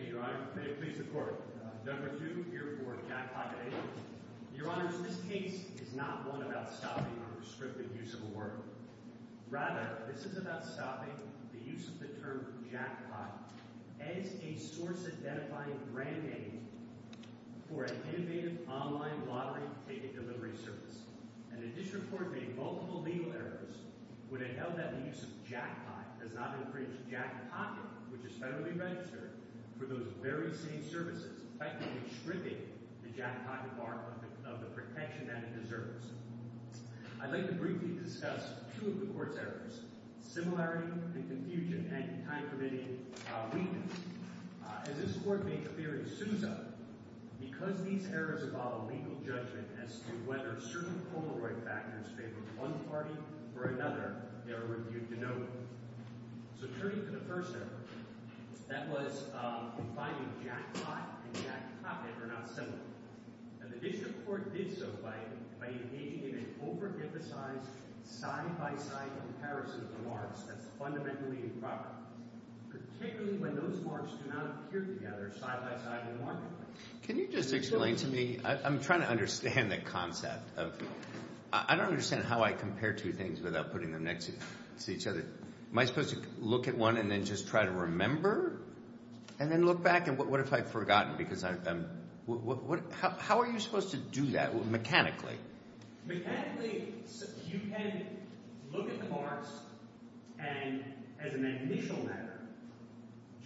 Thank you, Your Honor. May it please the Court. Number 2, here for Jackpot, Inc. Your Honors, this case is not one about stopping a restricted use of a word. Rather, this is about stopping the use of the term jackpot as a source-identifying brand name for an innovative online lottery ticket delivery service. And the District Court made multiple legal errors when it held that the use of jackpot does not encourage jackpotting, which is federally registered, for those very same services, effectively stripping the jackpotting bar of the protection that it deserves. I'd like to briefly discuss two of the Court's errors, similarity and confusion, and time-permitting weakness. As this Court made the theory, Sousa, because these errors involve a legal judgment as to whether certain Polaroid factors favor one party or another, the error would be denoted. So turning to the first error, that was confining jackpot and jackpocket are not similar. And the District Court did so by engaging in an over-emphasized, side-by-side comparison of the marks. That's fundamentally improper, particularly when those marks do not appear together side-by-side in the marketplace. Can you just explain to me – I'm trying to understand the concept of – I don't understand how I compare two things without putting them next to each other. Am I supposed to look at one and then just try to remember and then look back? And what if I've forgotten because I'm – how are you supposed to do that mechanically? Mechanically, you can look at the marks and, as an initial matter,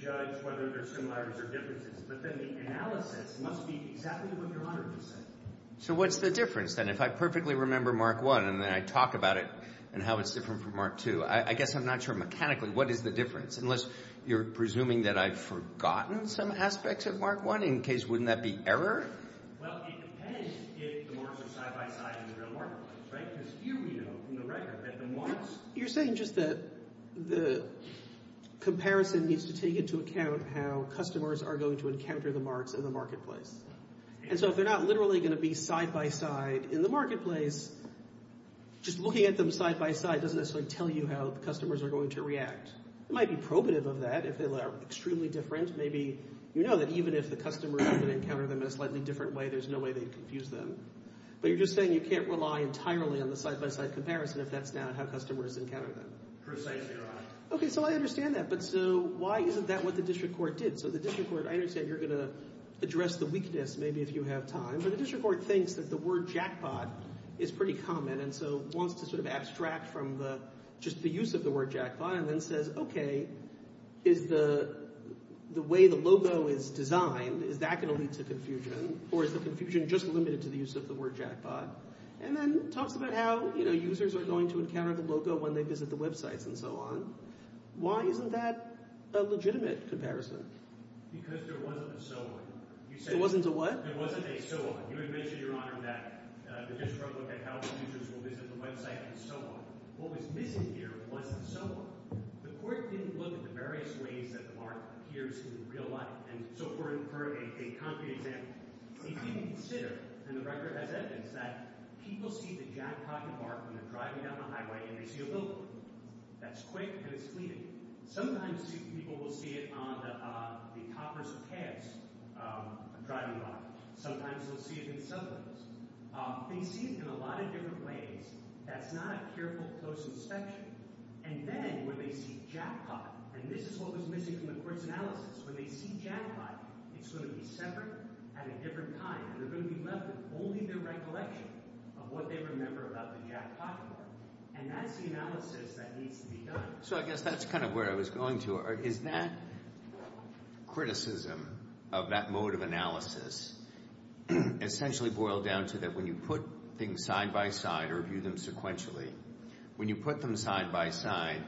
judge whether there are similarities or differences. But then the analysis must be exactly what you're honored to say. So what's the difference? Then if I perfectly remember mark one and then I talk about it and how it's different from mark two, I guess I'm not sure mechanically what is the difference, unless you're presuming that I've forgotten some aspects of mark one in case wouldn't that be error? Well, it depends if the marks are side-by-side in the real marketplace, right? Because here we know from the record that the marks – you're saying just that the comparison needs to take into account how customers are going to encounter the marks in the marketplace. And so if they're not literally going to be side-by-side in the marketplace, just looking at them side-by-side doesn't necessarily tell you how the customers are going to react. It might be probative of that if they are extremely different. Maybe you know that even if the customers are going to encounter them in a slightly different way, there's no way they'd confuse them. But you're just saying you can't rely entirely on the side-by-side comparison if that's not how customers encounter them. Precisely right. Okay, so I understand that, but so why isn't that what the district court did? So the district court – I understand you're going to address the weakness maybe if you have time, but the district court thinks that the word jackpot is pretty common and so wants to sort of abstract from the – just the use of the word jackpot and then says, okay, is the way the logo is designed, is that going to lead to confusion or is the confusion just limited to the use of the word jackpot? And then talks about how users are going to encounter the logo when they visit the websites and so on. Why isn't that a legitimate comparison? Because there wasn't a so on. There wasn't a what? There wasn't a so on. You had mentioned, Your Honor, that the district court looked at how users will visit the website and so on. What was missing here was the so on. The court didn't look at the various ways that the mark appears in real life. And so for a concrete example, if you consider, and the record has evidence, that people see the jackpot mark when they're driving down the highway and they see a logo. That's quick and it's fleeting. Sometimes people will see it on the toppers of cabs driving by. Sometimes they'll see it in subways. They see it in a lot of different ways. That's not a careful, close inspection. And then when they see jackpot, and this is what was missing from the court's analysis, when they see jackpot, it's going to be separate at a different time. They're going to be left with only the recollection of what they remember about the jackpot mark. And that's the analysis that needs to be done. So I guess that's kind of where I was going to. Is that criticism of that mode of analysis essentially boiled down to that when you put things side by side or view them sequentially, when you put them side by side,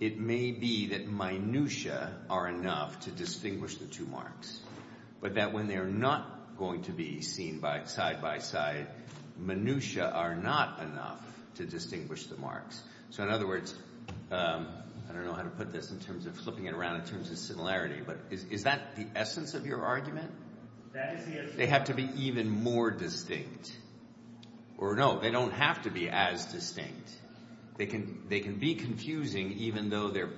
it may be that minutiae are enough to distinguish the two marks, but that when they're not going to be seen side by side, minutiae are not enough to distinguish the marks. So in other words, I don't know how to put this in terms of flipping it around in terms of similarity, but is that the essence of your argument? They have to be even more distinct. Or no, they don't have to be as distinct. They can be confusing even though they're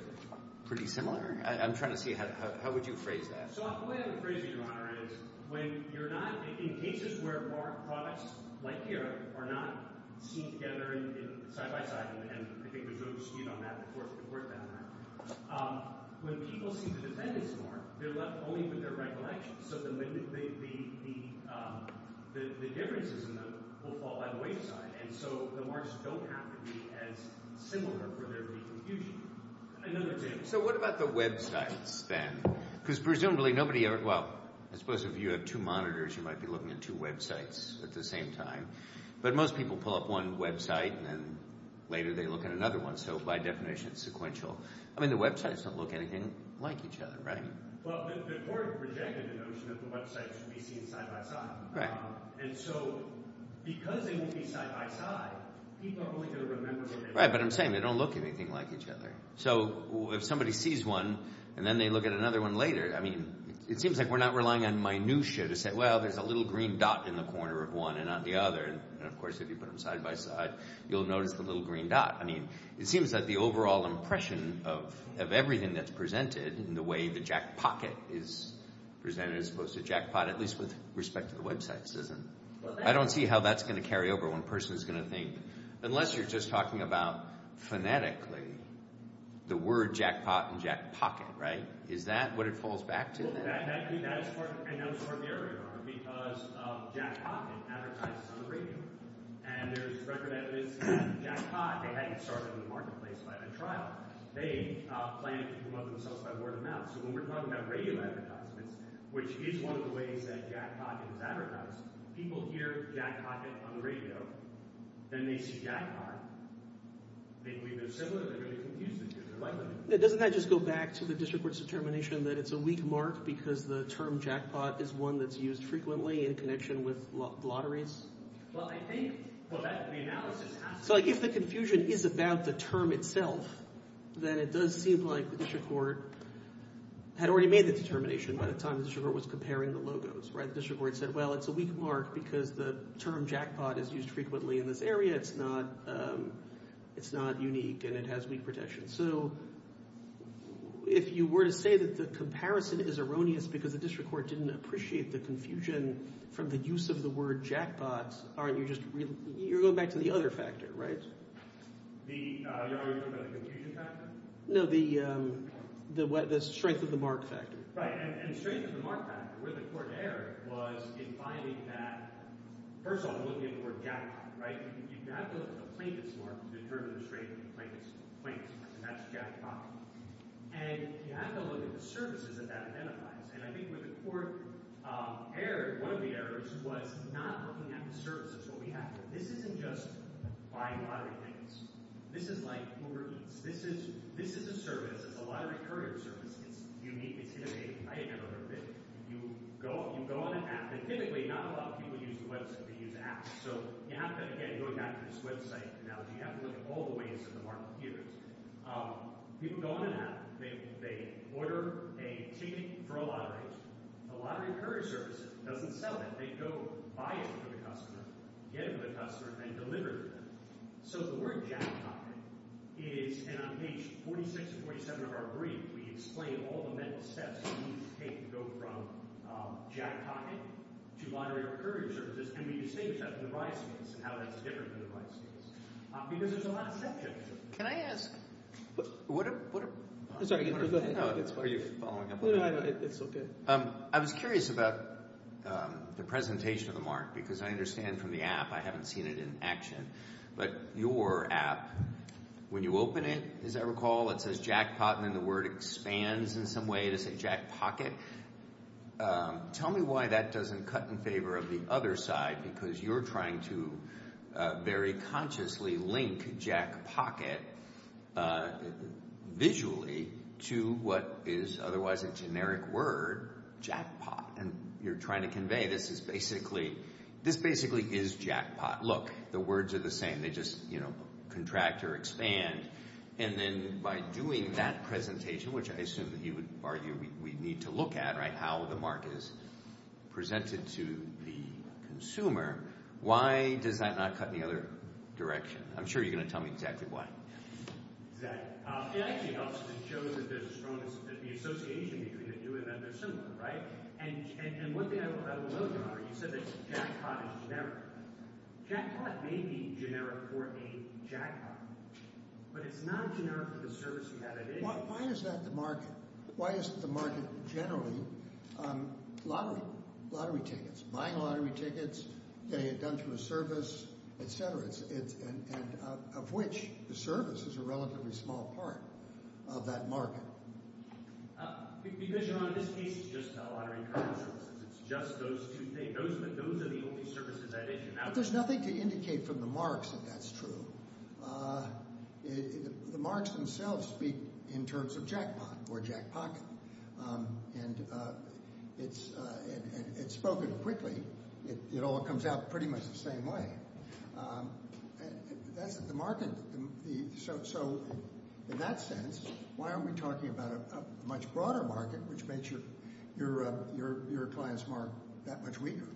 pretty similar? I'm trying to see how would you phrase that? So the way I would phrase it, Your Honor, is when you're not – in cases where products like here are not seen together side by side, and I think we've moved speed on that before we've worked on that, when people see the defendant's mark, they're left only with their recollection. So the differences in them will fall out of the wayside. And so the marks don't have to be as similar for there to be confusion. Another thing. So what about the websites then? Because presumably nobody – well, I suppose if you have two monitors, you might be looking at two websites at the same time. But most people pull up one website, and then later they look at another one. So by definition, it's sequential. I mean the websites don't look anything like each other, right? Well, the court rejected the notion that the websites should be seen side by side. Right. And so because they won't be side by side, people are only going to remember what they've seen. Right, but I'm saying they don't look anything like each other. So if somebody sees one and then they look at another one later, I mean it seems like we're not relying on minutia to say, well, there's a little green dot in the corner of one and not the other. And, of course, if you put them side by side, you'll notice the little green dot. I mean it seems that the overall impression of everything that's presented and the way the jackpocket is presented as opposed to jackpot, at least with respect to the websites, isn't – I don't see how that's going to carry over when a person is going to think – unless you're just talking about phonetically the word jackpot and jackpocket, right? Is that what it falls back to? Well, that is part – and that was part of the error, because jackpocket advertises on the radio. And there's record evidence that jackpot, they hadn't started in the marketplace by the trial. They planned to promote themselves by word of mouth. So when we're talking about radio advertisements, which is one of the ways that jackpocket is advertised, people hear jackpocket on the radio, then they see jackpot, they believe they're similar, they're going to confuse the two. Doesn't that just go back to the district court's determination that it's a weak mark because the term jackpot is one that's used frequently in connection with lotteries? Well, I think – well, that's the analysis. So if the confusion is about the term itself, then it does seem like the district court had already made the determination by the time the district court was comparing the logos. The district court said, well, it's a weak mark because the term jackpot is used frequently in this area. It's not unique and it has weak protection. So if you were to say that the comparison is erroneous because the district court didn't appreciate the confusion from the use of the word jackpot, aren't you just – you're going back to the other factor, right? Are you talking about the confusion factor? No, the strength of the mark factor. Right, and the strength of the mark factor where the court erred was in finding that – first of all, looking at the word jackpot, right? You have to look at the plaintiff's mark to determine the strength of the plaintiff's mark, and that's jackpot. And you have to look at the services that that identifies. And I think where the court erred, one of the errors, was not looking at the services. This isn't just buying lottery tickets. This is like Uber Eats. This is a service. It's a lottery courier service. It's unique. It's innovative. I had never heard of it. You go on an app. And typically, not a lot of people use the website. They use apps. So you have to, again, going back to this website analogy, you have to look at all the ways that the mark appears. People go on an app. They order a ticket for a lottery. The lottery courier service doesn't sell it. They go buy it for the customer, get it for the customer, and deliver it to them. So the word jackpot is – and on page 46 and 47 of our brief, we explain all the mental steps you need to take to go from jackpotting to lottery or courier services. And we distinguish that from the rice case and how that's different from the rice case because there's a lot of steps you have to take. Can I ask – are you following up on that? It's okay. I was curious about the presentation of the mark because I understand from the app I haven't seen it in action. But your app, when you open it, as I recall, it says jackpot, and then the word expands in some way to say jackpocket. Tell me why that doesn't cut in favor of the other side because you're trying to very consciously link jackpocket visually to what is otherwise a generic word, jackpot. And you're trying to convey this is basically – this basically is jackpot. Look, the words are the same. They just contract or expand. And then by doing that presentation, which I assume that you would argue we need to look at, right, how the mark is presented to the consumer, why does that not cut in the other direction? I'm sure you're going to tell me exactly why. Exactly. It actually helps because it shows that there's a strong – that the association between the do and the consumer, right? And one thing I love about it, you said that jackpot is generic. Jackpot may be generic for a jackpot, but it's not generic for the service you have at issue. Why is that the market? Why is the market generally lottery tickets, buying lottery tickets, getting it done through a service, et cetera, and of which the service is a relatively small part of that market? Because, you know, in this case it's just the lottery card services. It's just those two things. Those are the only services at issue. There's nothing to indicate from the marks that that's true. The marks themselves speak in terms of jackpot or jackpocket, and it's spoken quickly. It all comes out pretty much the same way. That's the market. So in that sense, why aren't we talking about a much broader market, which makes your client's mark that much weaker?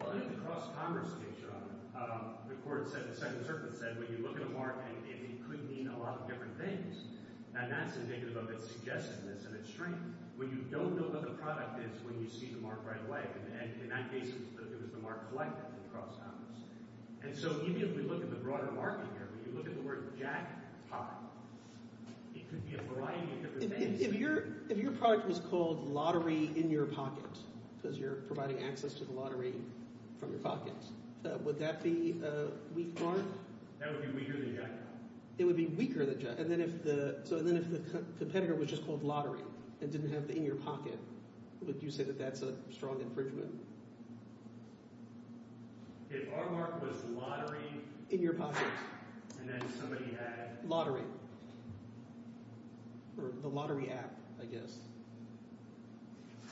Well, look at the cross-commerce picture on it. The court said, the Second Circuit said, when you look at a mark, it could mean a lot of different things, and that's indicative of its suggestiveness and its strength. When you don't know what the product is when you see the mark right away, and in that case it was the mark collected in cross-commerce. And so even if we look at the broader market here, when you look at the word jackpot, it could be a variety of different things. If your product was called lottery in your pocket because you're providing access to the lottery from your pocket, would that be a weak mark? That would be weaker than jackpot. It would be weaker than jackpot. And then if the competitor was just called lottery and didn't have the in your pocket, would you say that that's a strong infringement? If our mark was lottery in your pocket and then somebody had – Lottery. Or the lottery app, I guess.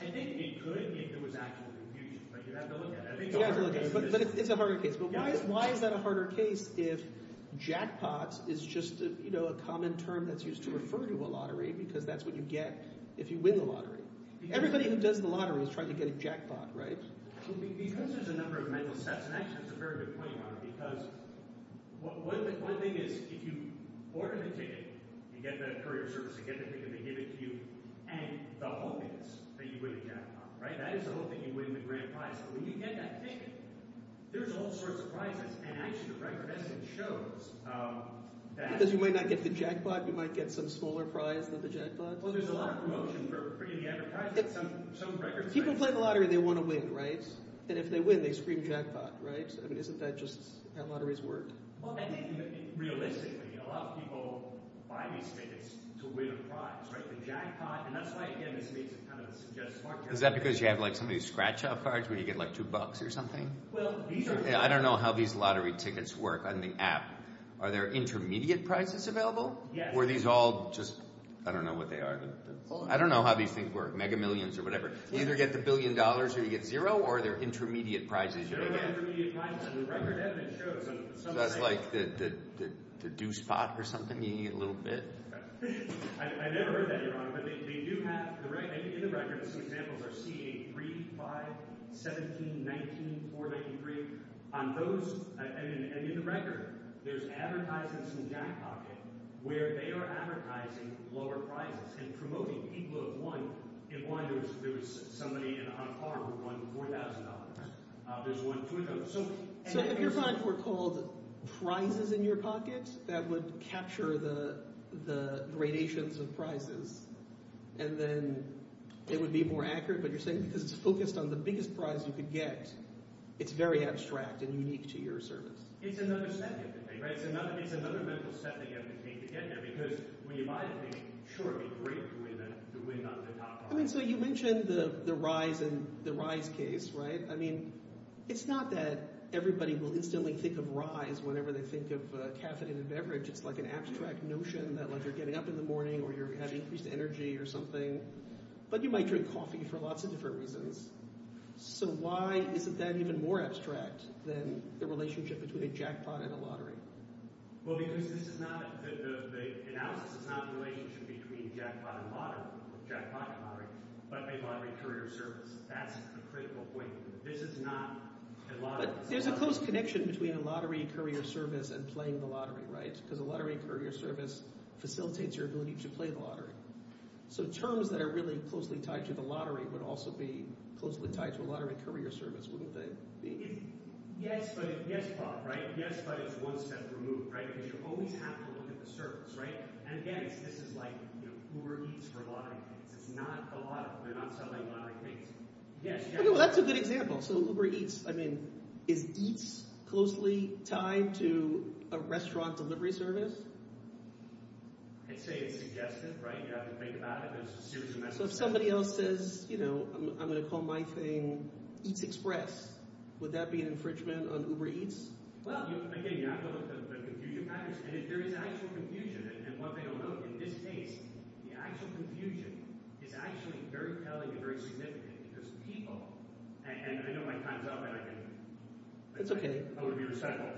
I think it could if there was actual infusion, but you'd have to look at it. You'd have to look at it. But it's a harder case. But why is that a harder case if jackpot is just a common term that's used to refer to a lottery because that's what you get if you win the lottery? Everybody who does the lottery is trying to get a jackpot, right? Because there's a number of mental steps, and actually that's a very good point, Mark, because one thing is if you order the ticket and get that courier service and get the ticket, they give it to you, and the hope is that you win the jackpot. That is the hope that you win the grand prize. But when you get that ticket, there's all sorts of prizes, and actually the record as it shows that – Because you might not get the jackpot. You might get some smaller prize than the jackpot. Well, there's a lot of promotion for free of the advertisement. Some records – People play the lottery. They want to win, right? And if they win, they scream jackpot, right? I mean isn't that just how lotteries work? Well, I think realistically a lot of people buy these tickets to win a prize, right? The jackpot – and that's why, again, this makes it kind of suggest – Is that because you have like some of these scratch-off cards where you get like two bucks or something? Well, these are – I don't know how these lottery tickets work on the app. Are there intermediate prizes available? Yes. Or are these all just – I don't know what they are. I don't know how these things work, mega millions or whatever. You either get the billion dollars or you get zero, or there are intermediate prizes you get. There are intermediate prizes. The record evidence shows – So that's like the deuce pot or something you get a little bit? I never heard that, Your Honor. But they do have – in the record, some examples are CA3, 5, 17, 19, 493. On those – and in the record, there's advertisements in JackPocket where they are advertising lower prizes and promoting people who have won. In one, there was somebody on a car who won $4,000. There's one – So if your finds were called prizes in your pocket, that would capture the gradations of prizes, and then it would be more accurate. But you're saying because it's focused on the biggest prize you could get, it's very abstract and unique to your service. It's another set that you have to take to get there because when you buy the thing, sure, it would be great to win the top prize. So you mentioned the rise case, right? I mean it's not that everybody will instantly think of rise whenever they think of a caffeinated beverage. It's like an abstract notion that like you're getting up in the morning or you have increased energy or something. But you might drink coffee for lots of different reasons. So why isn't that even more abstract than the relationship between a jackpot and a lottery? Well, because this is not – the analysis is not the relationship between jackpot and lottery, but a lottery courier service. That's a critical point. This is not a lottery. But there's a close connection between a lottery courier service and playing the lottery, right? Because a lottery courier service facilitates your ability to play the lottery. So terms that are really closely tied to the lottery would also be closely tied to a lottery courier service, wouldn't they? Yes, but – yes, Bob, right? Yes, but it's one step removed because you always have to look at the service, right? And again, this is like Uber Eats for lottery tickets. It's not the lottery. They're not selling lottery tickets. Well, that's a good example. So Uber Eats – I mean is Eats closely tied to a restaurant delivery service? I'd say it's suggestive, right? You have to think about it. There's a series of messages. So if somebody else says I'm going to call my thing Eats Express, would that be an infringement on Uber Eats? Well, again, you have to look at the confusion patterns. And if there is actual confusion and what they don't know, in this case, the actual confusion is actually very telling and very significant because people – and I know my time's up. I want to be respectful.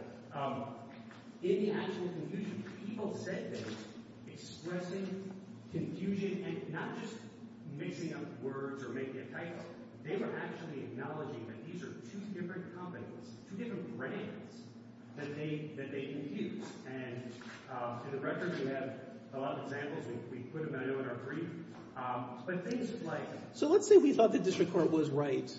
In the actual confusion, people said they were expressing confusion and not just mixing up words or making a title. They were actually acknowledging that these are two different companies, two different brands that they confuse. And in the record, we have a lot of examples. We put them in our brief. But things like – so let's say we thought the district court was right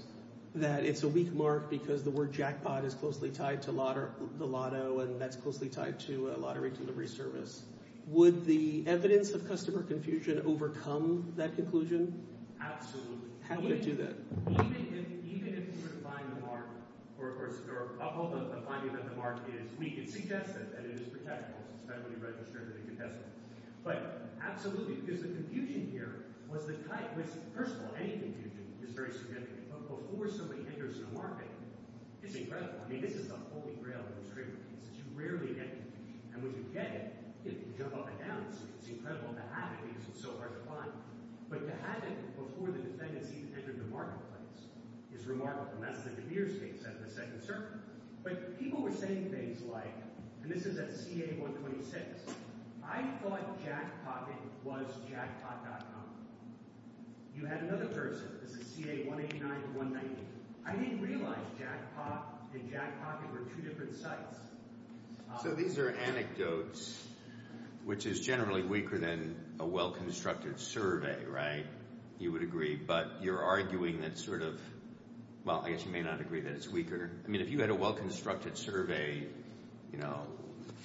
that it's a weak mark because the word jackpot is closely tied to the lotto and that's closely tied to a lottery delivery service. Would the evidence of customer confusion overcome that conclusion? Absolutely. How would it do that? Even if you were to find the mark or a finding that the mark is weak, it suggests that it is protectable. So it's not going to be registered as a contestant. But absolutely, because the confusion here was the type – first of all, any confusion is very significant. But before somebody enters the market, it's incredible. I mean this is the holy grail of this framework. This is – you rarely get confusion. And when you get it, you jump up and down. It's incredible to have it because it's so hard to find. But to have it before the defendants even enter the marketplace is remarkable. And that's the DeMeers case at the second circuit. But people were saying things like – and this is at CA-126. I thought jackpotting was jackpot.com. You had another person. This is CA-189 to 180. I didn't realize jackpot and jackpotting were two different sites. So these are anecdotes, which is generally weaker than a well-constructed survey, right? You would agree. But you're arguing that sort of – well, I guess you may not agree that it's weaker. I mean if you had a well-constructed survey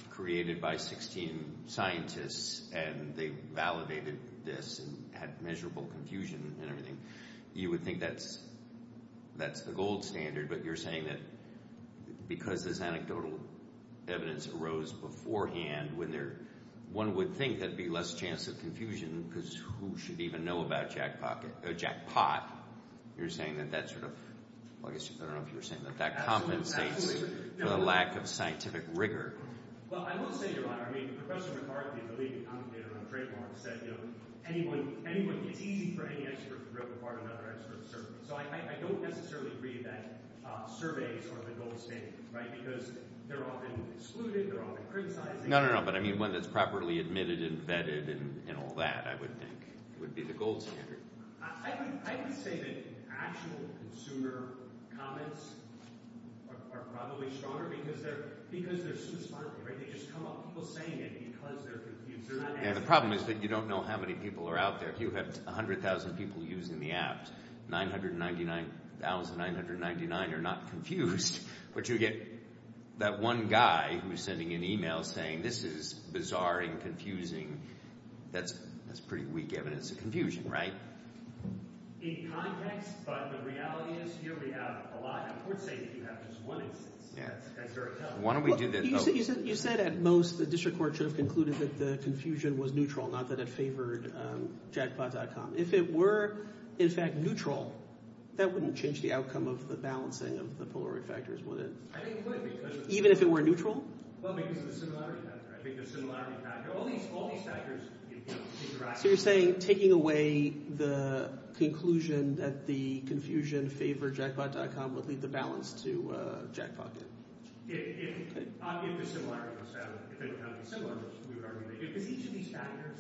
created by 16 scientists and they validated this and had measurable confusion and everything, you would think that's the gold standard. But you're saying that because this anecdotal evidence arose beforehand, one would think there would be less chance of confusion because who should even know about jackpot? You're saying that that sort of – I don't know if you were saying that. That compensates for the lack of scientific rigor. Well, I will say, Your Honor, I mean Professor McCarthy, the leading commentator on trademark, said it's easy for any expert to rip apart another expert's survey. So I don't necessarily agree that surveys are the gold standard, right? Because they're often excluded. They're often criticized. No, no, no. But I mean one that's properly admitted and vetted and all that, I would think, would be the gold standard. I would say that actual consumer comments are probably stronger because they're so smart. They just come up. People say it because they're confused. The problem is that you don't know how many people are out there. It's like you have 100,000 people using the apps. 999,999 are not confused. But you get that one guy who's sending an email saying this is bizarre and confusing. That's pretty weak evidence of confusion, right? In context, but the reality is here we have a lot. I would say that you have just one instance. Why don't we do that? You said at most the district court should have concluded that the confusion was neutral, not that it favored jackpot.com. If it were, in fact, neutral, that wouldn't change the outcome of the balancing of the polarity factors, would it? Even if it were neutral? Well, because of the similarity factor. I think the similarity factor. All these factors interact. So you're saying taking away the conclusion that the confusion favored jackpot.com would leave the balance to jackpocket. If the similarity goes down. Because each of these factors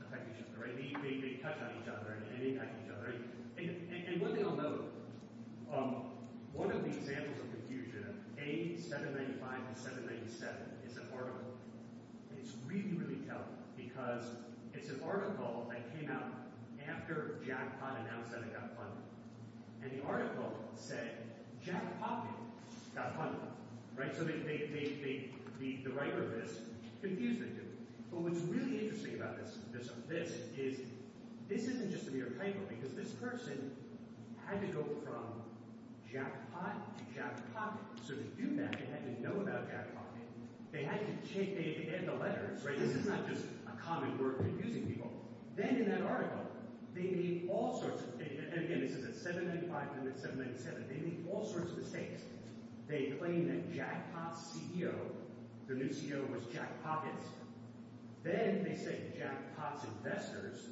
affect each other, right? They touch on each other and impact each other. And one thing I'll note, one of the examples of confusion, A795 and 797 is an article. It's really, really telling because it's an article that came out after jackpot announced that it got funded. And the article said jackpot got funded, right? So the writer of this confused them, too. But what's really interesting about this is this isn't just a mere typo because this person had to go from jackpot to jackpot. So to do that, they had to know about jackpot. They had to take – they had the letters, right? This is not just a common word confusing people. Then in that article, they made all sorts of – and again, this is a 795 and a 797. They made all sorts of mistakes. They claimed that jackpot's CEO, their new CEO, was jackpocket. Then they said jackpot's investors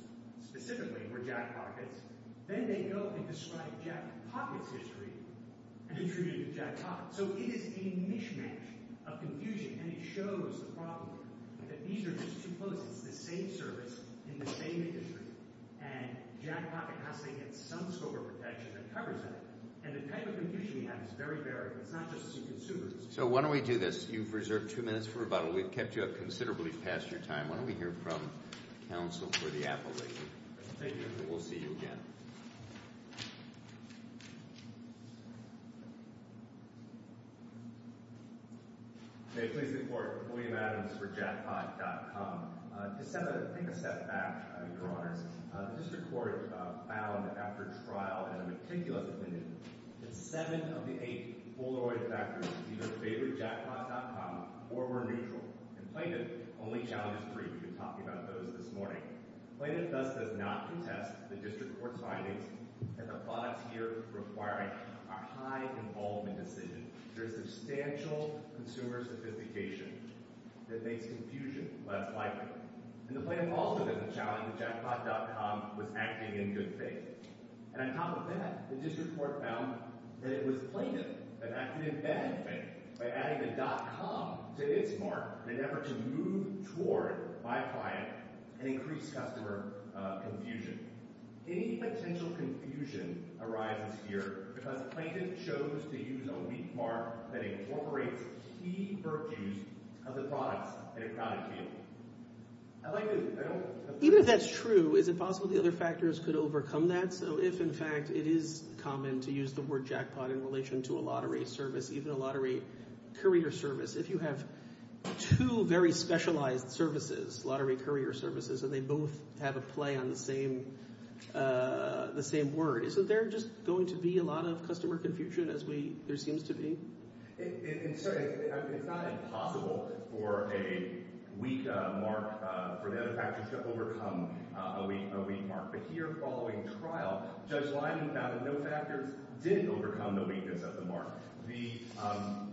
specifically were jackpockets. Then they go and describe jackpocket's history and attributed it to jackpot. So it is a mishmash of confusion, and it shows the problem that these are just two places, the same service in the same industry. And jackpocket has to get some scope of protection that covers that. And the type of confusion we have is very varied. It's not just to consumers. So why don't we do this? You've reserved two minutes for rebuttal. We've kept you up considerably past your time. Why don't we hear from counsel for the appellate? Thank you. And we'll see you again. May it please the court, William Adams for jackpot.com. To take a step back, Your Honors, the district court found after trial and a meticulous opinion that seven of the eight Bolleroi factories either favored jackpot.com or were neutral. And plaintiff only challenged three. We've been talking about those this morning. Plaintiff thus does not contest the district court's findings that the products here require a high involvement decision. There is substantial consumer sophistication that makes confusion less likely. And the plaintiff also doesn't challenge that jackpot.com was acting in good faith. And on top of that, the district court found that it was plaintiff that acted in bad faith by adding a .com to its mark in an effort to move toward, by client, an increased customer confusion. Any potential confusion arises here because plaintiff chose to use a weak mark that incorporates key virtues of the products at a county table. I like this. Even if that's true, is it possible the other factors could overcome that? So if, in fact, it is common to use the word jackpot in relation to a lottery service, even a lottery courier service. If you have two very specialized services, lottery courier services, and they both have a play on the same word, isn't there just going to be a lot of customer confusion as there seems to be? It's not impossible for a weak mark, for the other factors to overcome a weak mark. But here, following trial, Judge Lyman found that no factors did overcome the weakness of the mark. The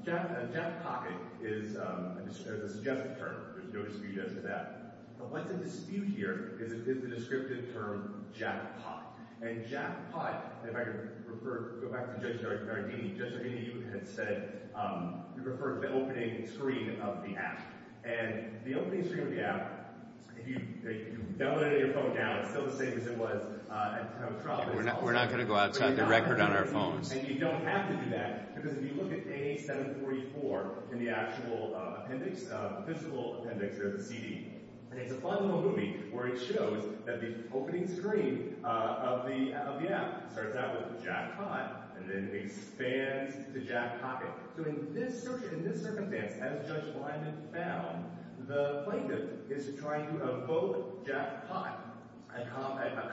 jackpocket is a suggestive term. There's no dispute as to that. But what's at dispute here is the descriptive term jackpot. And jackpot, if I could go back to Judge Giardini, Judge Giardini had said he preferred the opening screen of the app. And the opening screen of the app, if you download it on your phone now, it's still the same as it was at time of trial. We're not going to go outside the record on our phones. And you don't have to do that because if you look at A744 in the actual appendix, the physical appendix of the CD, and it's a final movie where it shows that the opening screen of the app starts out with jackpot and then expands to jackpocket. So in this circumstance, as Judge Lyman found, the plaintiff is trying to evoke jackpot, a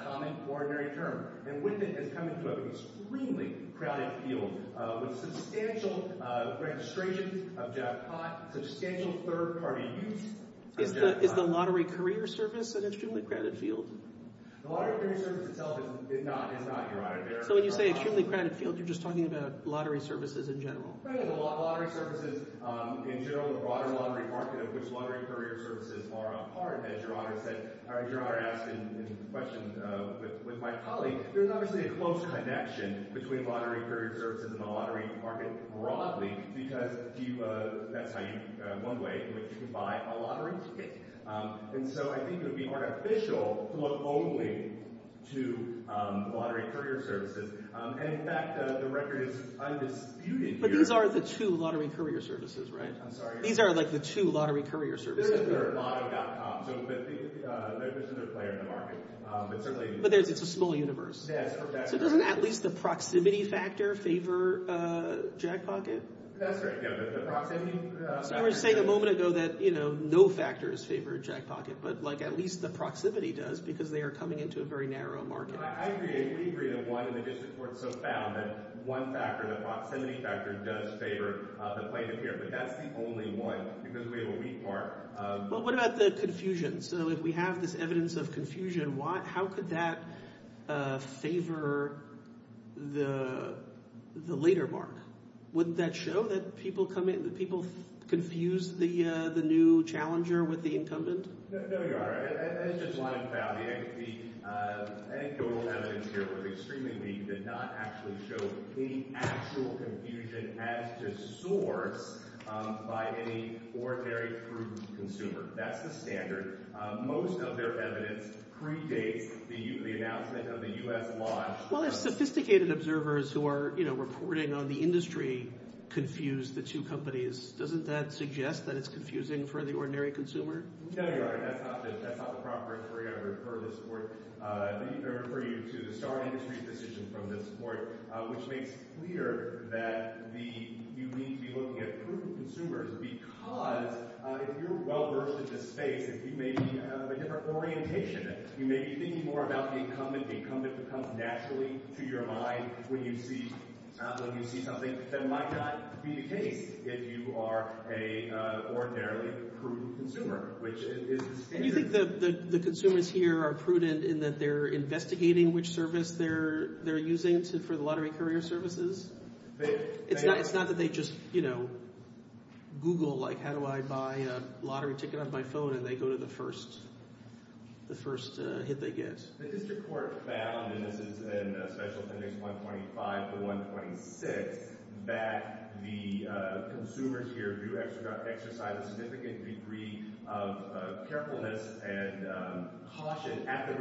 common, ordinary term. And with it is coming to an extremely crowded field with substantial registrations of jackpot, substantial third-party use. Is the lottery career service an extremely crowded field? The lottery career service itself is not, Your Honor. So when you say extremely crowded field, you're just talking about lottery services in general. Lottery services in general, the broader lottery market of which lottery career services are a part, as Your Honor said, as Your Honor asked in question with my colleague, there's obviously a close connection between lottery career services and the lottery market broadly because that's one way in which you can buy a lottery ticket. And so I think it would be artificial to look only to lottery career services. And, in fact, the record is undisputed here. But these are the two lottery career services, right? I'm sorry? These are like the two lottery career services. They're at lotto.com. So there's another player in the market. But it's a small universe. So doesn't at least the proximity factor favor jackpocket? That's right. No, but the proximity factor. You were saying a moment ago that no factors favor jackpocket, but, like, at least the proximity does because they are coming into a very narrow market. I agree. We agree that one in the district court so found that one factor, the proximity factor, does favor the plaintiff here. But that's the only one because we have a weak part. Well, what about the confusion? So if we have this evidence of confusion, how could that favor the later mark? Wouldn't that show that people confuse the new challenger with the incumbent? No, you are right. It's just one and found. The anecdotal evidence here was extremely weak. It did not actually show any actual confusion as to source by any ordinary fruit consumer. That's the standard. Most of their evidence predates the announcement of the U.S. law. Well, if sophisticated observers who are reporting on the industry confuse the two companies, doesn't that suggest that it's confusing for the ordinary consumer? No, you are right. That's not the proper answer. We're going to refer this court. I'm going to refer you to the Starr Industries decision from this court, which makes clear that you need to be looking at prudent consumers because if you're well-versed in this space, if you may be of a different orientation, you may be thinking more about the incumbent. The incumbent comes naturally to your mind when you see something that might not be the case if you are an ordinarily prudent consumer, which is the standard. I think the consumers here are prudent in that they're investigating which service they're using for the lottery courier services. It's not that they just Google, like, how do I buy a lottery ticket on my phone, and they go to the first hit they get. The district court found, and this is in special appendix 125 to 126, that the consumers here do exercise a significant degree of carefulness and caution at the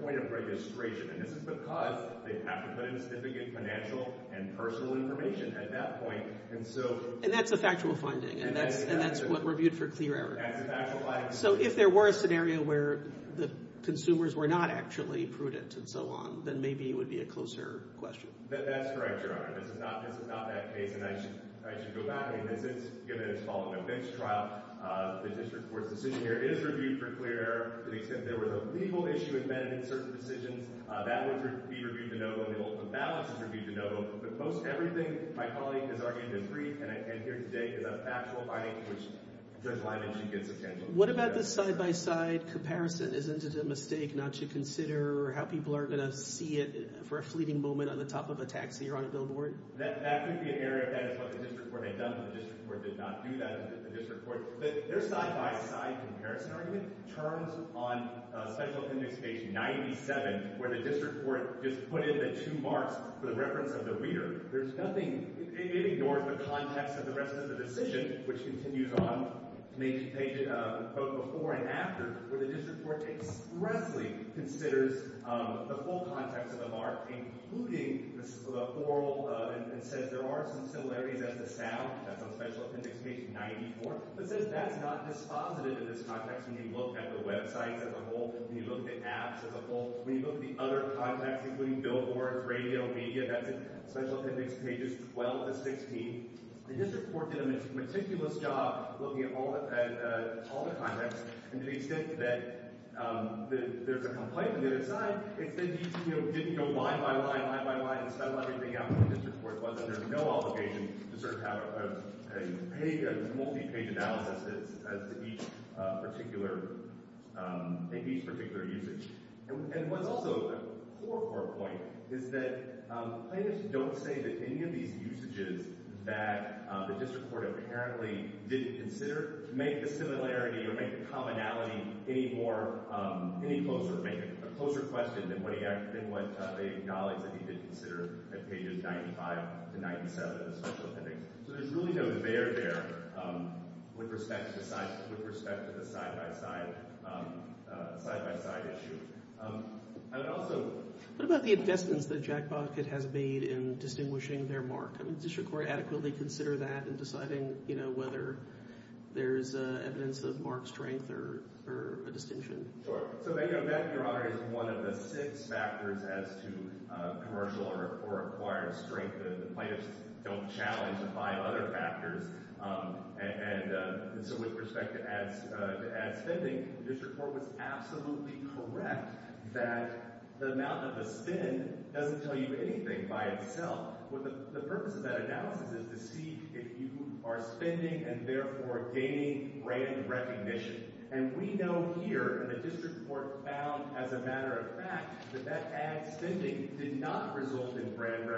point of registration. And this is because they have to put in significant financial and personal information at that point. And that's a factual finding, and that's what we're viewed for clear error. That's a factual finding. So if there were a scenario where the consumers were not actually prudent and so on, then maybe it would be a closer question. That's correct, Your Honor. This is not that case, and I should go back. And as it's given, it's following a mixed trial. The district court's decision here is reviewed for clear error. To the extent there was a legal issue in certain decisions, that would be reviewed to no vote. The open balance is reviewed to no vote. But most everything my colleague has argued in brief and here today is a factual finding, which Judge Lyman should get substantial. What about the side-by-side comparison? Isn't it a mistake not to consider how people are going to see it for a fleeting moment on the top of a taxi or on a billboard? That could be an error. That is what the district court had done, but the district court did not do that. The district court – their side-by-side comparison argument turns on special appendix page 97, where the district court just put in the two marks for the reference of the reader. There's nothing – it ignores the context of the rest of the decision, which continues on, both before and after, where the district court expressly considers the full context of the mark, including the oral and says there are some similarities as to sound. That's on special appendix page 94. It says that's not dispositive in this context when you look at the websites as a whole, when you look at apps as a whole. When you look at the other contexts, including billboards, radio, media, that's on special appendix pages 12 to 16. The district court did a meticulous job looking at all the contexts, and to the extent that there's a complaint on the other side, it said you didn't go line by line, line by line, and spell everything out like the district court was, and there's no obligation to sort of have a multi-page analysis as to each particular – in each particular usage. And what's also a core, core point is that plaintiffs don't say that any of these usages that the district court apparently didn't consider make the similarity or make the commonality any more – any closer, make it a closer question than what he – than what they acknowledge that he did consider at pages 95 to 97 of the special appendix. So there's really no there there with respect to the side – with respect to the side-by-side – side-by-side issue. I would also – What about the investments that Jack Bockett has made in distinguishing their mark? I mean, does your court adequately consider that in deciding, you know, whether there's evidence of mark strength or a distinction? Sure. So they – that, Your Honor, is one of the six factors as to commercial or acquired strength that the plaintiffs don't challenge by other factors. And so with respect to ad spending, the district court was absolutely correct that the amount of the spin doesn't tell you anything by itself. The purpose of that analysis is to see if you are spending and therefore gaining brand recognition. And we know here, and the district court found as a matter of fact, that that ad spending did not result in brand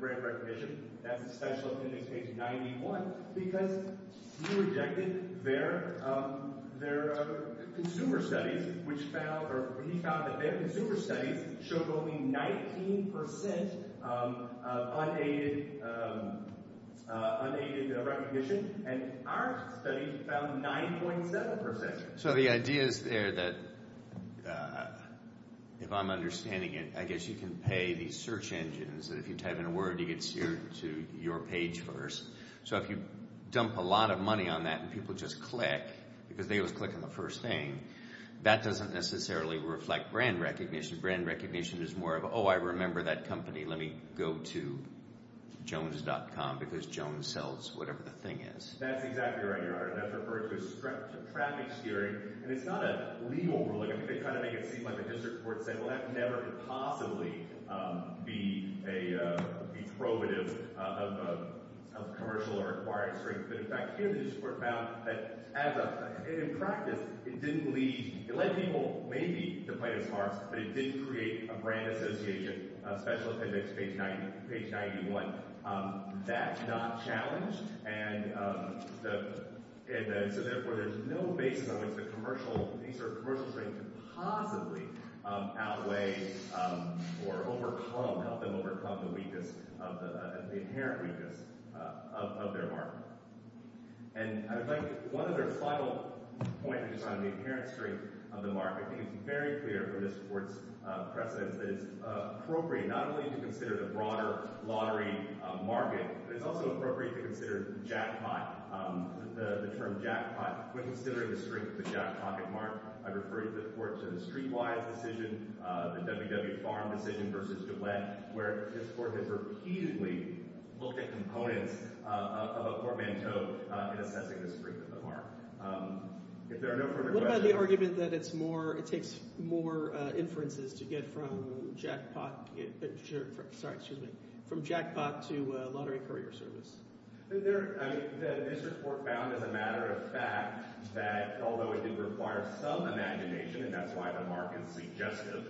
recognition. That's a special appendix, page 91. Because he rejected their consumer studies, which found – or he found that their consumer studies showed only 19 percent unaided recognition. And our studies found 9.7 percent. So the idea is there that, if I'm understanding it, I guess you can pay these search engines that if you type in a word, you get to your page first. So if you dump a lot of money on that and people just click, because they always click on the first thing, that doesn't necessarily reflect brand recognition. Brand recognition is more of, oh, I remember that company. Let me go to Jones.com because Jones sells whatever the thing is. That's exactly right, Your Honor. And that's referred to as traffic steering. And it's not a legal ruling. I think they kind of make it seem like the district court said, well, that never could possibly be probative of commercial or acquired strength. But, in fact, here the district court found that, in practice, it didn't lead – it led people, maybe, to play this card, but it didn't create a brand association, a special appendix, page 91. That's not challenged. And so, therefore, there's no basis on which the commercial – these are commercial traits that possibly outweigh or overcome – help them overcome the weakness of the – the inherent weakness of their market. And I would like – one other final point, which is on the inherent strength of the market. I think it's very clear from this court's precedence that it's appropriate not only to consider the broader lottery market, but it's also appropriate to consider jackpot, the term jackpot, when considering the strength of the jackpocket market. I've referred the court to the Streetwise decision, the WW Farm decision versus DeWitt, where this court has repeatedly looked at components of a portmanteau in assessing the strength of the market. If there are no further questions – What about the argument that it's more – it takes more inferences to get from jackpot – sorry, excuse me – from jackpot to lottery courier service? There – I mean, this report found, as a matter of fact, that although it did require some imagination, and that's why the market's suggestive,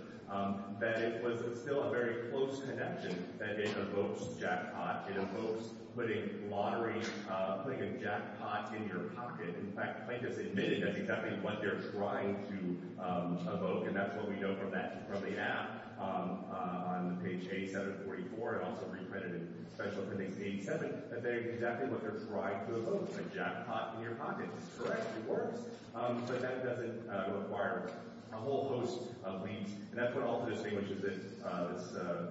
that it was still a very close connection that it evokes jackpot. It evokes putting lottery – putting a jackpot in your pocket. In fact, plaintiffs admitted that's exactly what they're trying to evoke, and that's what we know from that – from the app on page 8744. It also reprinted it, especially from page 87, that's exactly what they're trying to evoke, putting jackpot in your pocket. This court actually works, but that doesn't require a whole host of leads. And that's what also distinguishes this –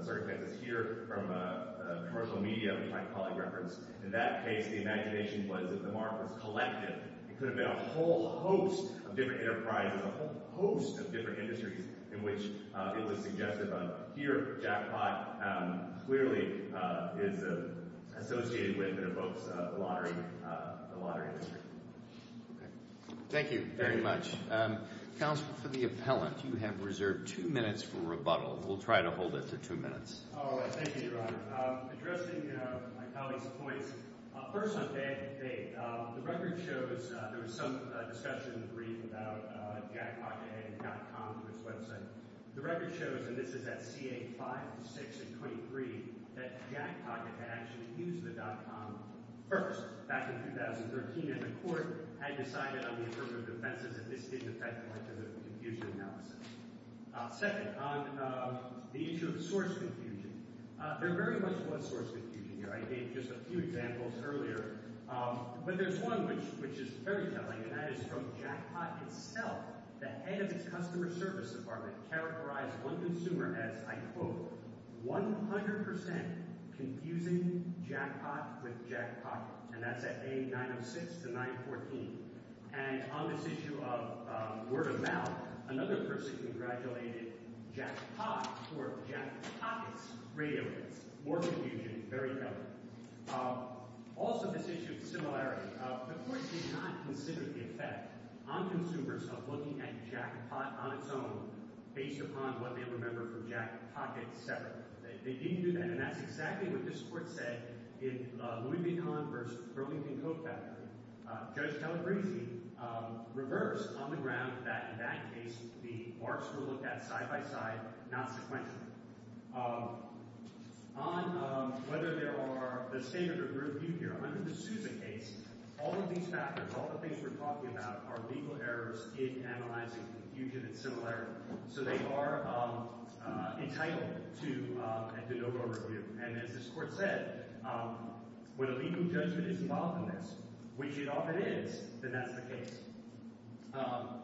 sorry, this is here from a commercial media, which my colleague referenced. In that case, the imagination was if the market was collective, it could have been a whole host of different enterprises, a whole host of different industries, in which it was suggestive of, but here jackpot clearly is associated with and evokes the lottery industry. Thank you very much. Counsel, for the appellant, you have reserved two minutes for rebuttal. We'll try to hold it to two minutes. Oh, thank you, Your Honor. Addressing my colleague's points, first on bank to bank, the record shows – there was some discussion in the brief about jackpotday.com, which was – the record shows, and this is at CA 5, 6, and 23, that jackpot had actually used the .com first, back in 2013, and the court had decided on the affirmative defenses, and this didn't affect much of the confusion analysis. Second, on the issue of source confusion, there very much was source confusion here. I gave just a few examples earlier, but there's one which is very telling, and that is from jackpot itself, the head of its customer service department characterized one consumer as, I quote, 100 percent confusing jackpot with jackpocket, and that's at A906 to 914. And on this issue of word of mouth, another person congratulated jackpot for jackpocket's radio waves. More confusion, very telling. Also, this issue of similarity. The court did not consider the effect on consumers of looking at jackpot on its own based upon what they remember from jackpocket separately. They didn't do that, and that's exactly what this court said in Louis Vuitton v. Burlington Coke Factory. Judge Calabresi reversed on the ground that, in that case, the marks were looked at side by side, not sequentially. On whether there are – the statement of review here, under the Susan case, all of these factors, all the things we're talking about are legal errors in analyzing confusion and similarity, so they are entitled to a de novo review. And as this court said, when a legal judgment is involved in this, which it often is, then that's the case. On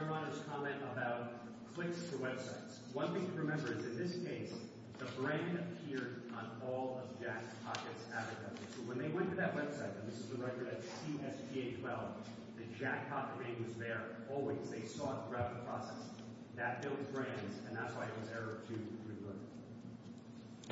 Your Honor's comment about clicks to websites, one thing to remember is, in this case, the brand appeared on all of jackpocket's advertising. So when they went to that website, and this is the record at QSGA-12, the jackpocket name was there always. They saw it throughout the process. That builds brands, and that's why it was error to revert.